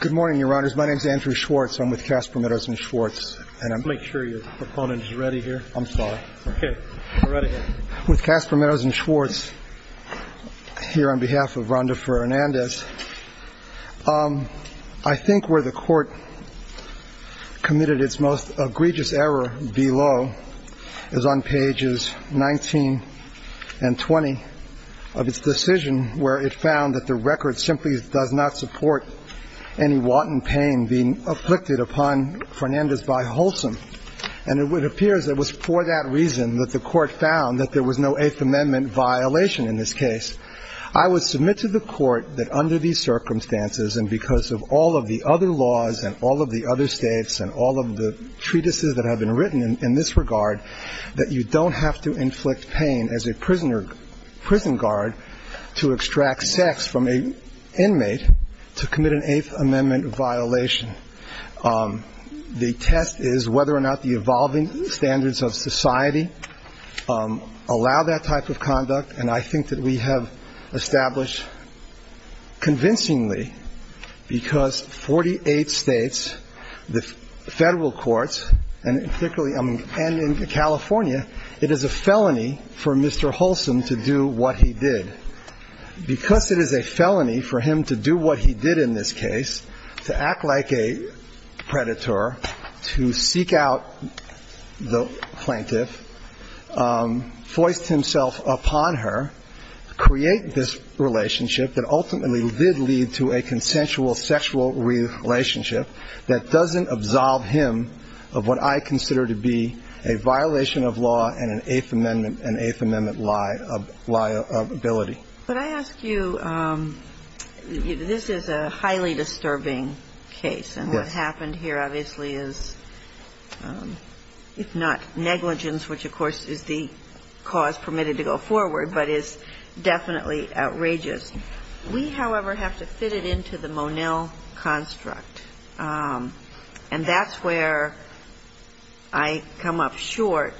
Good morning, your honors. My name is Andrew Schwartz. I'm with Casper Meadows & Schwartz. Make sure your proponent is ready here. I'm sorry. Okay. Go right ahead. With Casper Meadows & Schwartz here on behalf of Rhonda Fernandez, I think where the court committed its most egregious error below is on pages 19 and 20 of its decision, where it found that the record simply does not support any wanton pain being afflicted upon Fernandez by wholesome. And it appears it was for that reason that the court found that there was no Eighth Amendment violation in this case. I would submit to the court that under these circumstances and because of all of the other laws and all of the other states and all of the treatises that have been written in this regard, that you don't have to inflict pain as a prisoner prison guard to extract sex from an inmate to commit an Eighth Amendment violation. The test is whether or not the evolving standards of society allow that type of conduct. And I think that we have established convincingly because 48 states, the federal courts, and particularly in California, it is a felony for Mr. Holson to do what he did. Because it is a felony for him to do what he did in this case, to act like a predator, to seek out the plaintiff, foist himself upon her, create this relationship that ultimately did lead to a consensual sexual relationship that doesn't absolve him of what I consider to be a violation of law and an Eighth Amendment liability. But I ask you, this is a highly disturbing case. Yes. And what happened here obviously is, if not negligence, which of course is the cause permitted to go forward, but is definitely outrageous. We, however, have to fit it into the Monell construct, and that's where I come up short.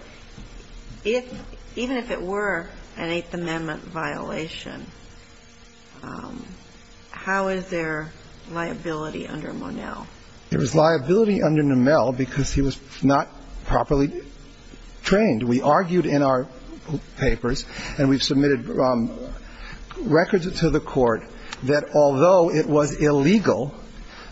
Even if it were an Eighth Amendment violation, how is there liability under Monell? There is liability under Nomell because he was not properly trained. We argued in our papers, and we've submitted records to the Court, that although it was illegal,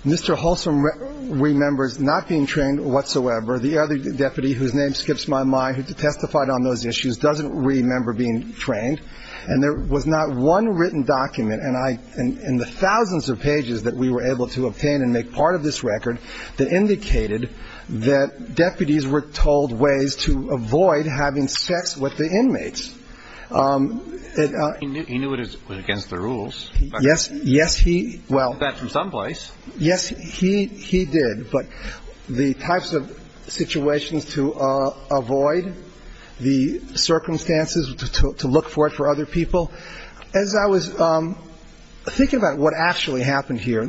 Mr. Holson remembers not being trained whatsoever. The other deputy, whose name skips my mind, who testified on those issues, doesn't remember being trained. And there was not one written document in the thousands of pages that we were able to obtain and make part of this record that indicated that deputies were told ways to avoid having sex with the inmates. He knew it was against the rules. Yes. Yes, he, well. He did that from some place. Yes, he did. But the types of situations to avoid, the circumstances to look for it for other people, as I was thinking about what actually happened here,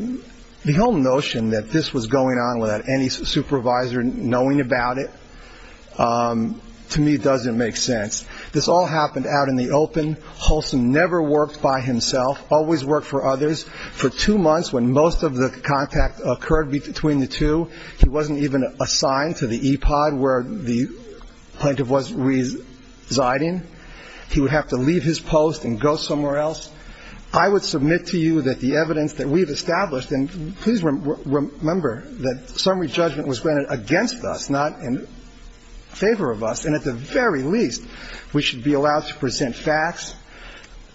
the whole notion that this was going on without any supervisor knowing about it, to me, doesn't make sense. This all happened out in the open. And for that reason, we would submit to you the evidence that at the time of his appointment and his resignation, Holson never worked by himself, always worked for others. For two months when most of the contact occurred between the two, he wasn't even assigned to the EPOD where the plaintiff was residing. He would have to leave his post and go somewhere else. I would submit to you that the evidence that we've established, and please remember that summary judgment was granted against us, not in favor of us, and at the very least we should be allowed to present facts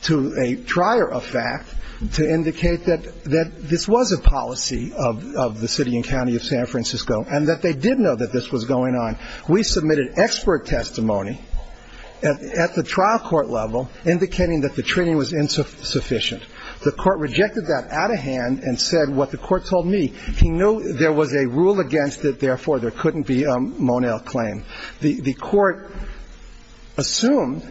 to a trier of fact to indicate that this was a policy of the city and county of San Francisco and that they did know that this was going on. We submitted expert testimony at the trial court level indicating that the training was insufficient. The court rejected that out of hand and said what the court told me. He knew there was a rule against it, therefore there couldn't be a Monell claim. The court assumed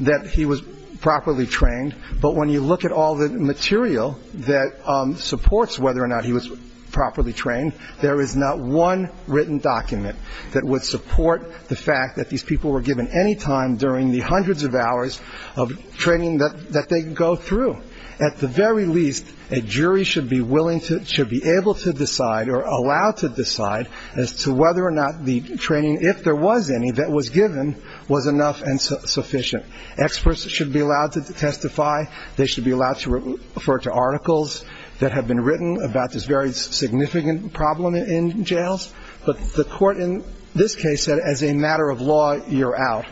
that he was properly trained, but when you look at all the material that supports whether or not he was properly trained, there is not one written document that would support the fact that these people were given any time during the hundreds of hours of training that they go through. At the very least, a jury should be able to decide or allowed to decide as to whether or not the training, if there was any, that was given was enough and sufficient. Experts should be allowed to testify. They should be allowed to refer to articles that have been written about this very significant problem in jails. But the court in this case said as a matter of law, you're out.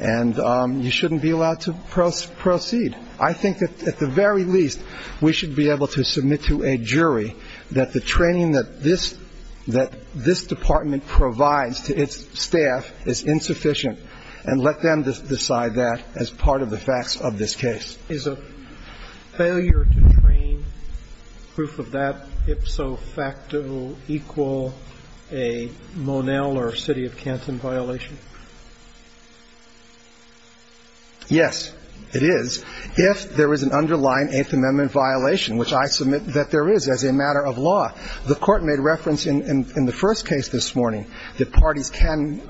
And you shouldn't be allowed to proceed. I think that at the very least, we should be able to submit to a jury that the training that this department provides to its staff is insufficient and let them decide that as part of the facts of this case. Is a failure to train proof of that ipso facto equal a Monell or city of Canton violation? Yes, it is, if there is an underlying Eighth Amendment violation, which I submit that there is as a matter of law. The court made reference in the first case this morning that parties can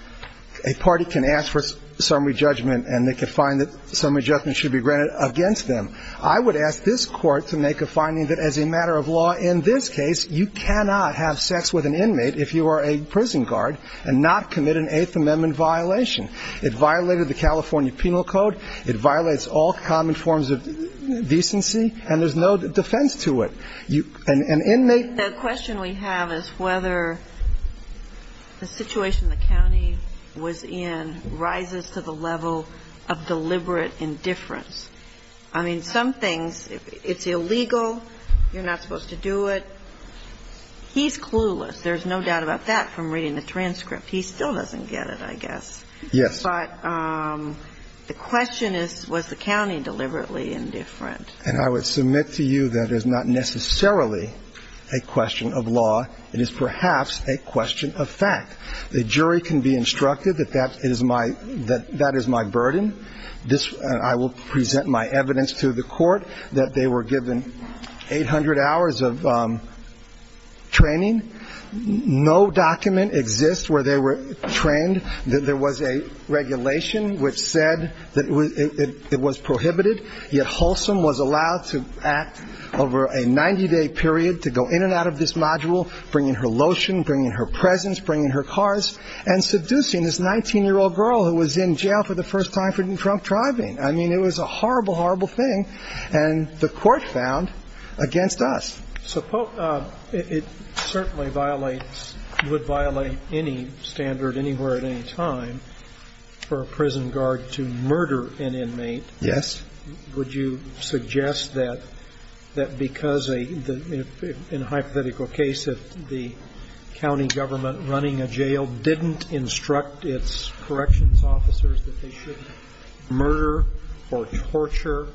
– a party can ask for summary judgment and they can find that summary judgment should be granted against them. I would ask this court to make a finding that as a matter of law in this case, you cannot have sex with an inmate if you are a prison guard and not commit an Eighth Amendment violation. It violated the California Penal Code. It violates all common forms of decency, and there's no defense to it. The question we have is whether the situation the county was in rises to the level of deliberate indifference. I mean, some things, it's illegal, you're not supposed to do it. He's clueless. There's no doubt about that from reading the transcript. He still doesn't get it, I guess. Yes. But the question is, was the county deliberately indifferent? And I would submit to you that is not necessarily a question of law. It is perhaps a question of fact. The jury can be instructed that that is my burden. I will present my evidence to the court that they were given 800 hours of training. No document exists where they were trained that there was a regulation which said that it was prohibited, yet Holson was allowed to act over a 90-day period to go in and out of this module, bringing her lotion, bringing her presents, bringing her cars, and seducing this 19-year-old girl who was in jail for the first time for drunk driving. I mean, it was a horrible, horrible thing. And the court found against us. So it certainly violates, would violate any standard anywhere at any time for a prison guard to murder an inmate. Yes. Would you suggest that because in a hypothetical case, if the county government running a jail didn't instruct its corrections officers that they shouldn't murder or torture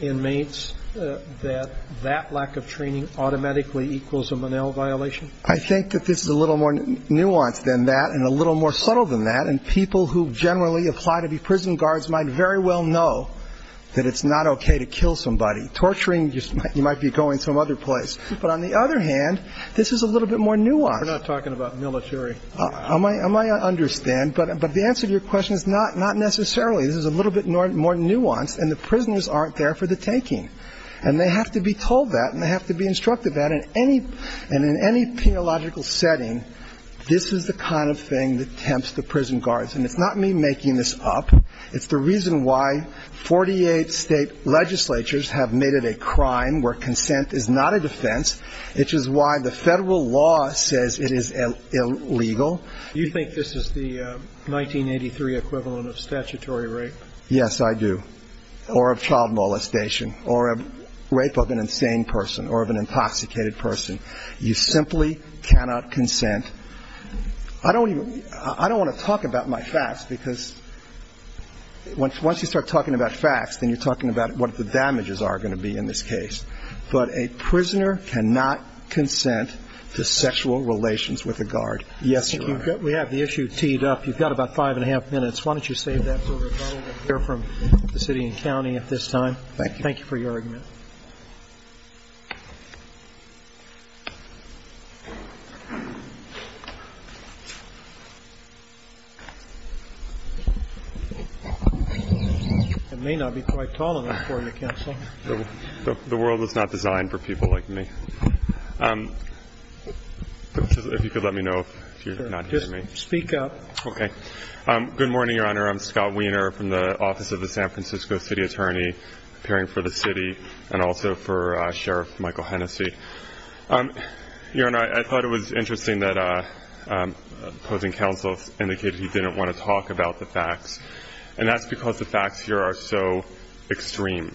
inmates, that that lack of training automatically equals a Monell violation? I think that this is a little more nuanced than that and a little more subtle than that. And people who generally apply to be prison guards might very well know that it's not okay to kill somebody. Torturing, you might be going some other place. But on the other hand, this is a little bit more nuanced. We're not talking about military. I understand. But the answer to your question is not necessarily. This is a little bit more nuanced, and the prisoners aren't there for the taking. And they have to be told that, and they have to be instructed that. And in any penological setting, this is the kind of thing that tempts the prison guards. And it's not me making this up. It's the reason why 48 state legislatures have made it a crime where consent is not a defense, which is why the federal law says it is illegal. Do you think this is the 1983 equivalent of statutory rape? Yes, I do. Or of child molestation or a rape of an insane person or of an intoxicated person. You simply cannot consent. I don't want to talk about my facts because once you start talking about facts, then you're talking about what the damages are going to be in this case. But a prisoner cannot consent to sexual relations with a guard. Yes, Your Honor. We have the issue teed up. You've got about five and a half minutes. Why don't you save that for a follow-up from the city and county at this time. Thank you for your argument. It may not be quite tall enough for you, Counsel. The world is not designed for people like me. If you could let me know if you're not hearing me. Just speak up. Okay. Good morning, Your Honor. I'm Scott Wiener from the Office of the San Francisco City Attorney, appearing for the city and also for Sheriff Michael Hennessy. Your Honor, I thought it was interesting that opposing counsel indicated he didn't want to talk about the facts. And that's because the facts here are so extreme.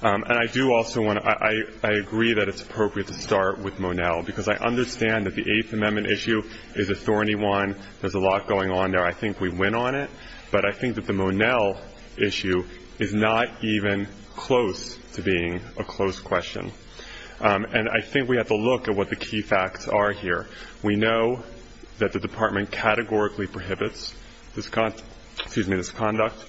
And I do also want to – I agree that it's appropriate to start with Monell because I understand that the Eighth Amendment issue is a thorny one. There's a lot going on there. I think we went on it. But I think that the Monell issue is not even close to being a close question. And I think we have to look at what the key facts are here. We know that the Department categorically prohibits this conduct.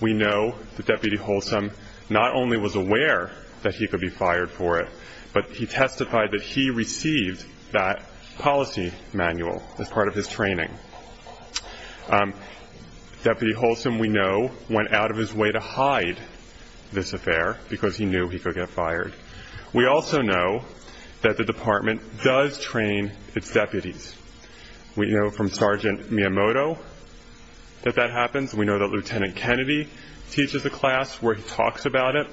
We know that Deputy Holsom not only was aware that he could be fired for it, but he testified that he received that policy manual as part of his training. Deputy Holsom, we know, went out of his way to hide this affair because he knew he could get fired. We also know that the Department does train its deputies. We know from Sergeant Miyamoto that that happens. We know that Lieutenant Kennedy teaches a class where he talks about it.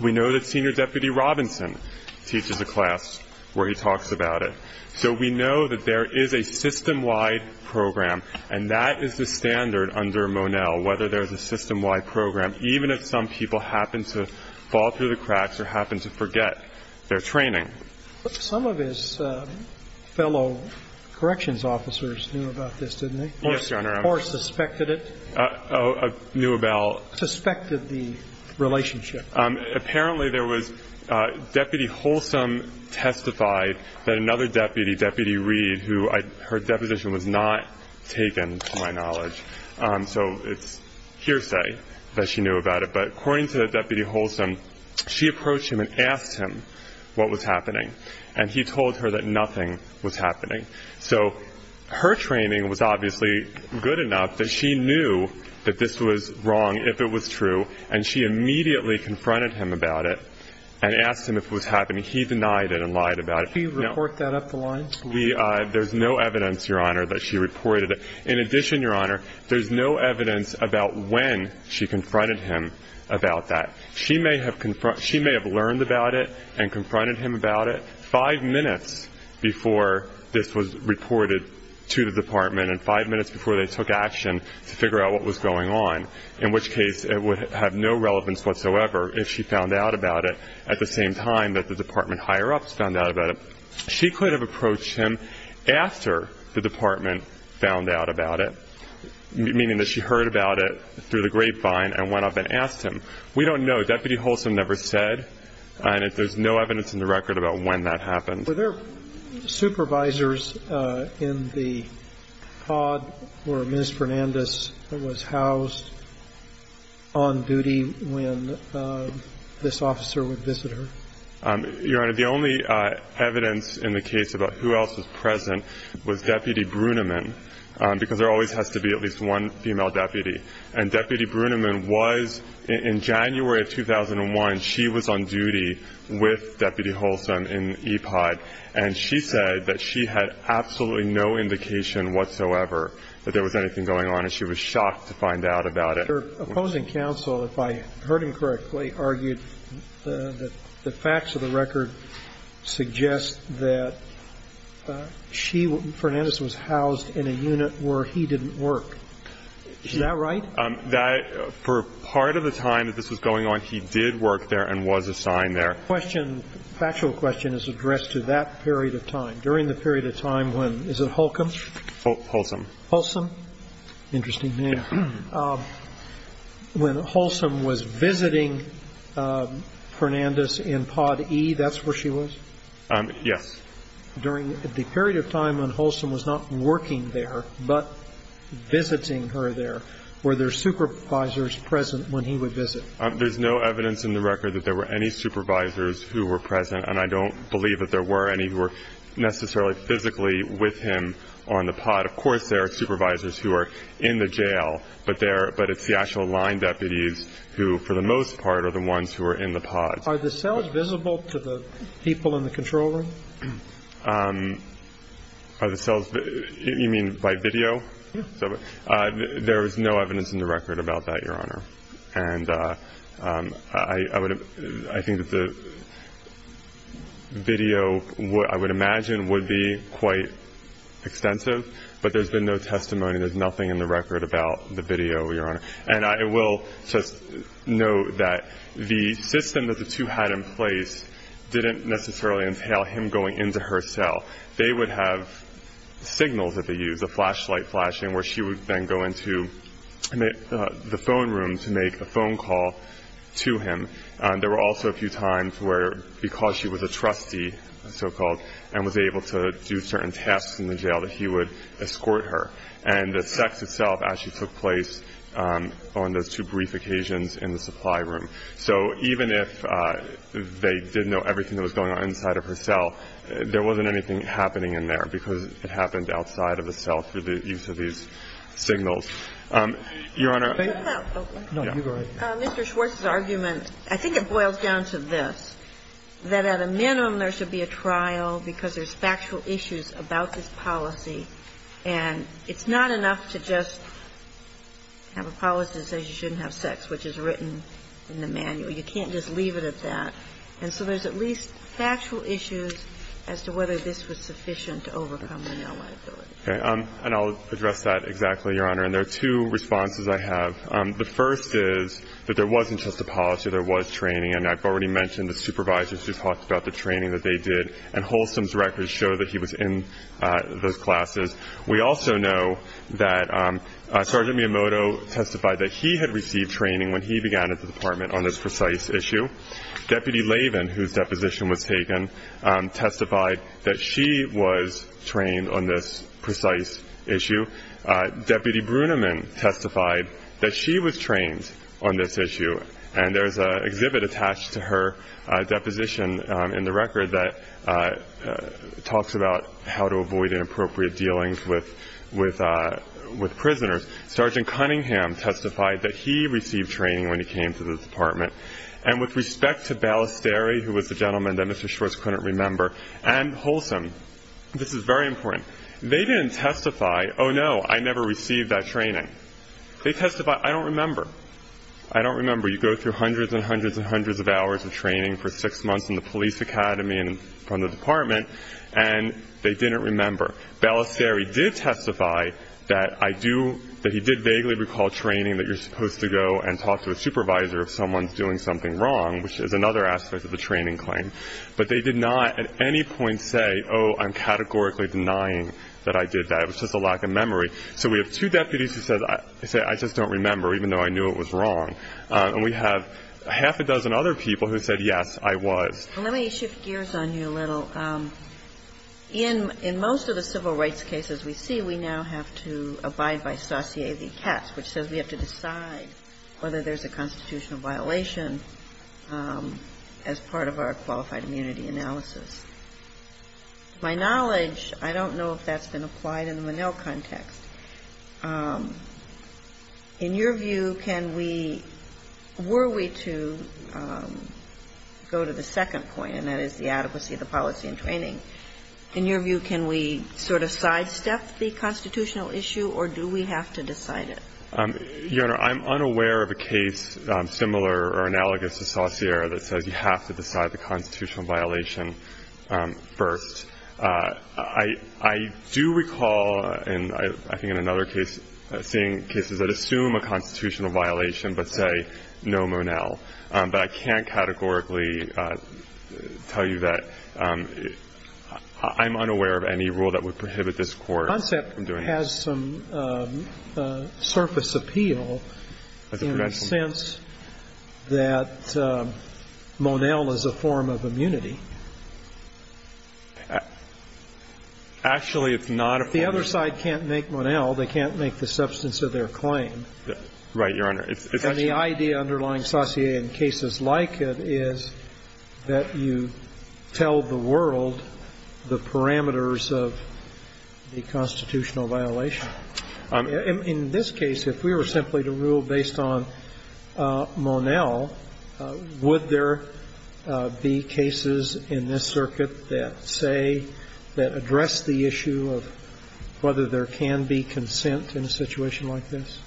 We know that Senior Deputy Robinson teaches a class where he talks about it. So we know that there is a system-wide program, and that is the standard under Monell, whether there's a system-wide program, even if some people happen to fall through the cracks or happen to forget their training. Some of his fellow corrections officers knew about this, didn't they? Yes, Your Honor. Or suspected it. Knew about. Suspected the relationship. Apparently there was Deputy Holsom testified that another deputy, Deputy Reed, who her deposition was not taken to my knowledge, so it's hearsay that she knew about it. But according to Deputy Holsom, she approached him and asked him what was happening, and he told her that nothing was happening. So her training was obviously good enough that she knew that this was wrong if it was true, and she immediately confronted him about it and asked him if it was happening. He denied it and lied about it. Can you report that up the line? There's no evidence, Your Honor, that she reported it. In addition, Your Honor, there's no evidence about when she confronted him about that. She may have learned about it and confronted him about it five minutes before this was reported to the Department and five minutes before they took action to figure out what was going on, in which case it would have no relevance whatsoever if she found out about it at the same time that the Department higher-ups found out about it. She could have approached him after the Department found out about it, meaning that she heard about it through the grapevine and went up and asked him. We don't know. Deputy Holsom never said, and there's no evidence in the record about when that happened. Were there supervisors in the pod where Ms. Fernandez was housed on duty when this officer would visit her? Your Honor, the only evidence in the case about who else was present was Deputy Bruneman, because there always has to be at least one female deputy. And Deputy Bruneman was in January of 2001. She was on duty with Deputy Holsom in EPOD, and she said that she had absolutely no indication whatsoever that there was anything going on, and she was shocked to find out about it. Your opposing counsel, if I heard him correctly, argued that the facts of the record suggest that Fernandez was housed in a unit where he didn't work. Is that right? For part of the time that this was going on, he did work there and was assigned there. The question, factual question, is addressed to that period of time, during the period of time when, is it Holcomb? Holsom. Holsom. Interesting name. When Holsom was visiting Fernandez in pod E, that's where she was? Yes. During the period of time when Holsom was not working there but visiting her there, were there supervisors present when he would visit? There's no evidence in the record that there were any supervisors who were present, and I don't believe that there were any who were necessarily physically with him on the pod. Of course, there are supervisors who are in the jail, but they're the actual line deputies who, for the most part, are the ones who are in the pods. Are the cells visible to the people in the control room? Are the cells, you mean by video? Yes. There is no evidence in the record about that, Your Honor. And I think that the video, I would imagine, would be quite extensive, but there's been no testimony. And I will just note that the system that the two had in place didn't necessarily entail him going into her cell. They would have signals that they used, a flashlight flashing, where she would then go into the phone room to make a phone call to him. There were also a few times where, because she was a trustee, so-called, and was able to do certain tasks in the jail, that he would escort her. And the sex itself actually took place on those two brief occasions in the supply room. So even if they didn't know everything that was going on inside of her cell, there wasn't anything happening in there because it happened outside of the cell through the use of these signals. Your Honor, I think Mr. Schwartz's argument, I think it boils down to this, that at a minimum, there should be a trial because there's factual issues about this policy. And it's not enough to just have a policy that says you shouldn't have sex, which is written in the manual. You can't just leave it at that. And so there's at least factual issues as to whether this was sufficient to overcome the male liability. Okay. And I'll address that exactly, Your Honor. And there are two responses I have. The first is that there wasn't just a policy. There was training. And I've already mentioned the supervisors who talked about the training that they did, and Holstom's records show that he was in those classes. We also know that Sergeant Miyamoto testified that he had received training when he began at the department on this precise issue. Deputy Lavin, whose deposition was taken, testified that she was trained on this precise issue. Deputy Bruneman testified that she was trained on this issue. And there's an exhibit attached to her deposition in the record that talks about how to avoid inappropriate dealings with prisoners. Sergeant Cunningham testified that he received training when he came to the department. And with respect to Ballesteri, who was the gentleman that Mr. Schwartz couldn't remember, and Holstom, this is very important, they didn't testify, oh, no, I never received that training. They testified, I don't remember. I don't remember. You go through hundreds and hundreds and hundreds of hours of training for six months in the police academy and from the department, and they didn't remember. Ballesteri did testify that he did vaguely recall training, that you're supposed to go and talk to a supervisor if someone's doing something wrong, which is another aspect of the training claim. But they did not at any point say, oh, I'm categorically denying that I did that. It was just a lack of memory. So we have two deputies who said, I just don't remember, even though I knew it was wrong. And we have half a dozen other people who said, yes, I was. Let me shift gears on you a little. In most of the civil rights cases we see, we now have to abide by saut�e de cas, which says we have to decide whether there's a constitutional violation as part of our qualified immunity analysis. My knowledge, I don't know if that's been applied in the Monell context. In your view, can we – were we to go to the second point, and that is the adequacy of the policy and training, in your view, can we sort of sidestep the constitutional issue, or do we have to decide it? Your Honor, I'm unaware of a case similar or analogous to Saussure that says you have to decide the constitutional violation first. I do recall, I think in another case, seeing cases that assume a constitutional violation but say no Monell. But I can't categorically tell you that. I'm unaware of any rule that would prohibit this Court from doing that. Well, I mean, I don't think there's some surface appeal in the sense that Monell is a form of immunity. Actually, it's not a form of immunity. The other side can't make Monell. They can't make the substance of their claim. Right, Your Honor. And the idea underlying saut�e de cas in cases like it is that you tell the world the parameters of the constitutional violation. In this case, if we were simply to rule based on Monell, would there be cases in this circuit that say, that address the issue of whether there can be consent in a situation like this?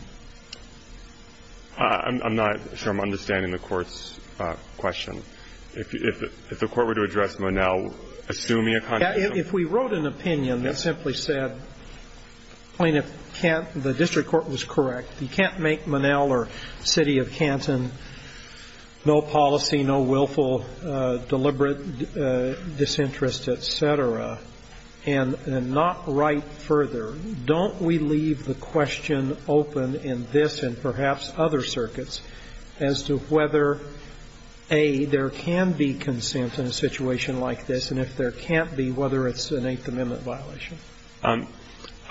I'm not sure I'm understanding the Court's question. If the Court were to address Monell, assuming a constitutional violation. If we wrote an opinion that simply said, plaintiff can't, the district court was correct. You can't make Monell or City of Canton no policy, no willful, deliberate disinterest, et cetera, and not write further. Don't we leave the question open in this and perhaps other circuits as to whether, A, there can be consent in a situation like this, and if there can't be, whether it's an Eighth Amendment violation?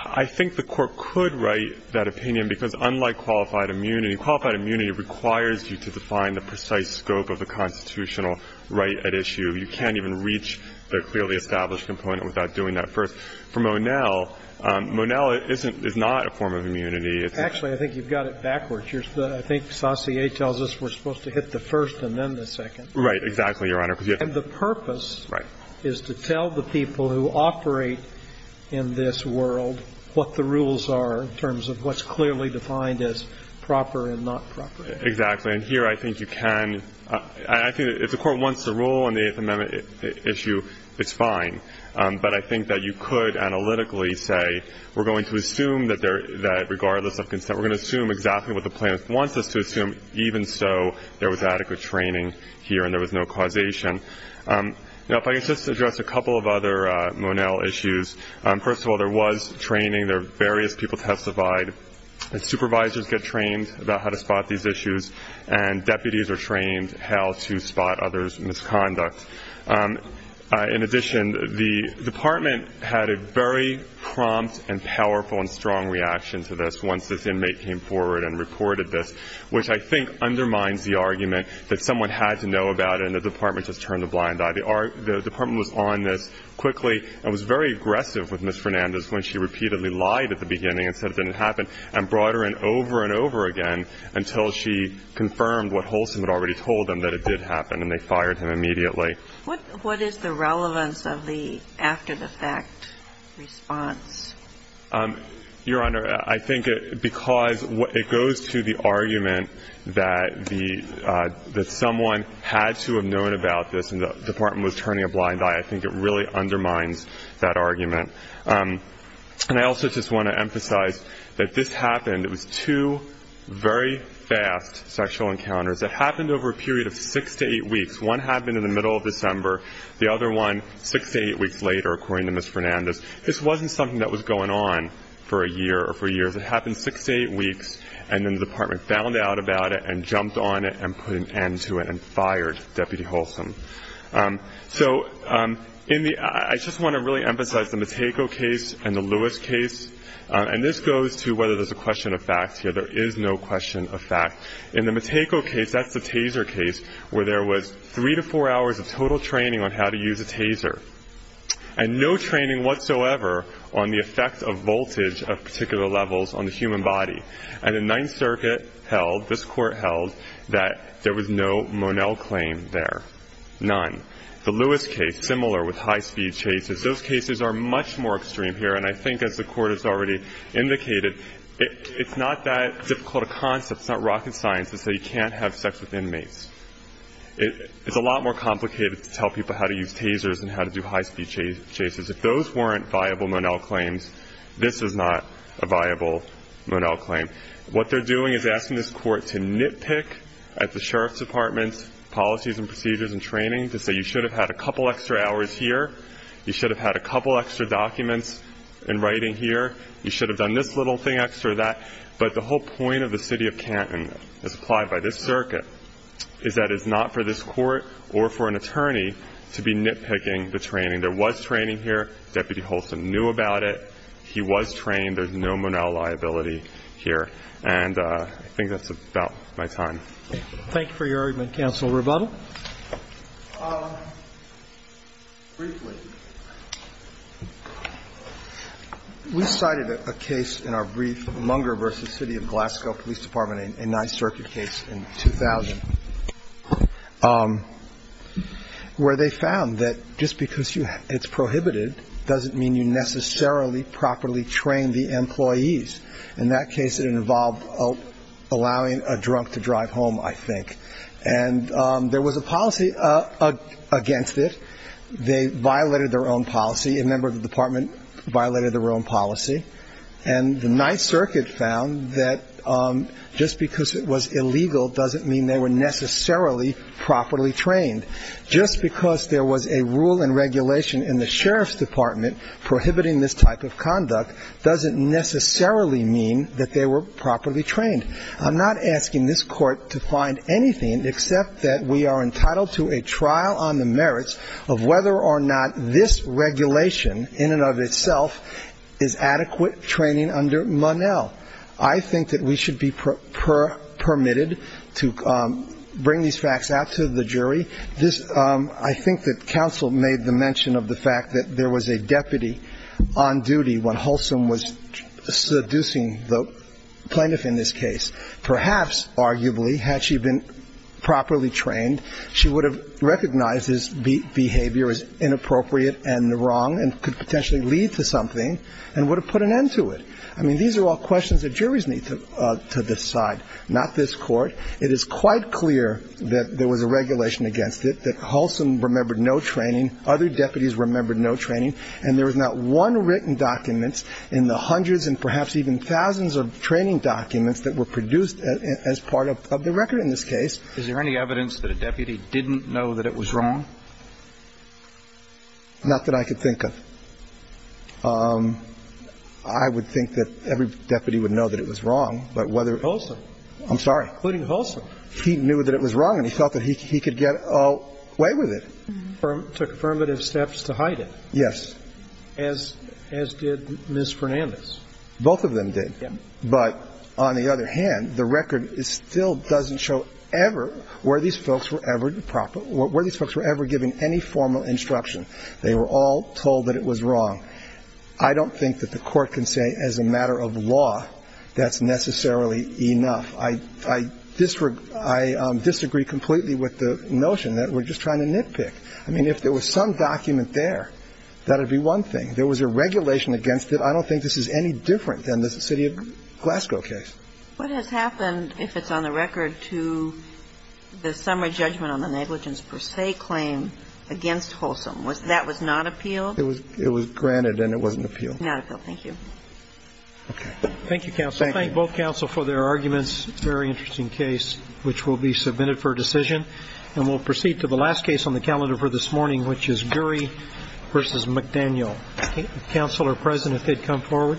I think the Court could write that opinion, because unlike qualified immunity, qualified immunity requires you to define the precise scope of the constitutional right at issue. You can't even reach the clearly established component without doing that first. For Monell, Monell isn't, is not a form of immunity. Actually, I think you've got it backwards. I think Saussure tells us we're supposed to hit the first and then the second. Right, exactly, Your Honor. And the purpose is to tell the people who operate in this world what the rules are in terms of what's clearly defined as proper and not proper. Exactly. And here I think you can. I think if the Court wants the rule on the Eighth Amendment issue, it's fine. But I think that you could analytically say, we're going to assume that regardless of consent, we're going to assume exactly what the plaintiff wants us to assume, even so there was adequate training here and there was no causation. Now, if I could just address a couple of other Monell issues. First of all, there was training. There were various people testified. Supervisors get trained about how to spot these issues, and deputies are trained how to spot others' misconduct. In addition, the Department had a very prompt and powerful and strong reaction to this once this inmate came forward and reported this, which I think undermines the argument that someone had to know about it and the Department just turned a blind eye. The Department was on this quickly and was very aggressive with Ms. Fernandez when she repeatedly lied at the beginning and said it didn't happen and brought her in over and over again until she confirmed what Holson had already told them, that it did happen, and they fired him immediately. What is the relevance of the after-the-fact response? Your Honor, I think because it goes to the argument that someone had to have known about this and the Department was turning a blind eye, I think it really undermines that argument. And I also just want to emphasize that this happened. It was two very fast sexual encounters. It happened over a period of six to eight weeks. One happened in the middle of December, the other one six to eight weeks later, according to Ms. Fernandez. This wasn't something that was going on for a year or four years. It happened six to eight weeks, and then the Department found out about it and jumped on it and put an end to it and fired Deputy Holson. So I just want to really emphasize the Matejko case and the Lewis case, and this goes to whether there's a question of fact here. There is no question of fact. In the Matejko case, that's the taser case, where there was three to four hours of total training on how to use a taser and no training whatsoever on the effects of voltage of particular levels on the human body. And the Ninth Circuit held, this Court held, that there was no Monell claim there, none. The Lewis case, similar with high-speed chases, those cases are much more extreme here, and I think, as the Court has already indicated, it's not that difficult a concept. It's not rocket science to say you can't have sex with inmates. It's a lot more complicated to tell people how to use tasers than how to do high-speed chases. If those weren't viable Monell claims, this is not a viable Monell claim. What they're doing is asking this Court to nitpick at the Sheriff's Department's policies and procedures and training to say you should have had a couple extra hours here, you should have had a couple extra documents in writing here, you should have done this little thing, extra that. But the whole point of the City of Canton, as applied by this Circuit, is that it's not for this Court or for an attorney to be nitpicking the training. There was training here. Deputy Holson knew about it. He was trained. There's no Monell liability here. And I think that's about my time. Roberts. Thank you for your argument, Counsel Rebuttal. Briefly, we cited a case in our brief, Munger v. City of Glasgow Police Department, a Ninth Circuit case in 2000, where they found that just because it's prohibited doesn't mean you necessarily properly train the employees. In that case, it involved allowing a drunk to drive home, I think. And there was a policy against it. They violated their own policy. A member of the department violated their own policy. And the Ninth Circuit found that just because it was illegal doesn't mean they were necessarily properly trained. Just because there was a rule and regulation in the Sheriff's Department prohibiting this type of conduct doesn't necessarily mean that they were properly trained. I'm not asking this Court to find anything except that we are entitled to a trial on the merits of whether or not this regulation in and of itself is adequate training under Monell. I think that we should be permitted to bring these facts out to the jury. I think that Counsel made the mention of the fact that there was a deputy on duty when Holson was seducing the plaintiff in this case. Perhaps, arguably, had she been properly trained, she would have recognized his behavior as inappropriate and wrong and could potentially lead to something and would have put an end to it. I mean, these are all questions that juries need to decide, not this Court. It is quite clear that there was a regulation against it, that Holson remembered no training, other deputies remembered no training, and there was not one written document in the hundreds and perhaps even thousands of training documents that were produced as part of the record in this case. Is there any evidence that a deputy didn't know that it was wrong? Not that I could think of. I would think that every deputy would know that it was wrong, but whether it was. Holson. I'm sorry. Including Holson. He knew that it was wrong and he felt that he could get away with it. Took affirmative steps to hide it. Yes. As did Ms. Fernandez. Both of them did. But on the other hand, the record still doesn't show ever where these folks were ever giving any formal instruction. They were all told that it was wrong. I don't think that the Court can say as a matter of law that's necessarily I disagree completely with the notion that we're just trying to nitpick. I mean, if there was some document there, that would be one thing. There was a regulation against it. I don't think this is any different than the city of Glasgow case. What has happened if it's on the record to the summary judgment on the negligence per se claim against Holson? That was not appealed? It was granted and it wasn't appealed. Not appealed. Thank you. Okay. Thank you, counsel. I thank both counsel for their arguments. It's a very interesting case which will be submitted for decision. And we'll proceed to the last case on the calendar for this morning, which is Gurry v. McDaniel. Counsel are present if they'd come forward.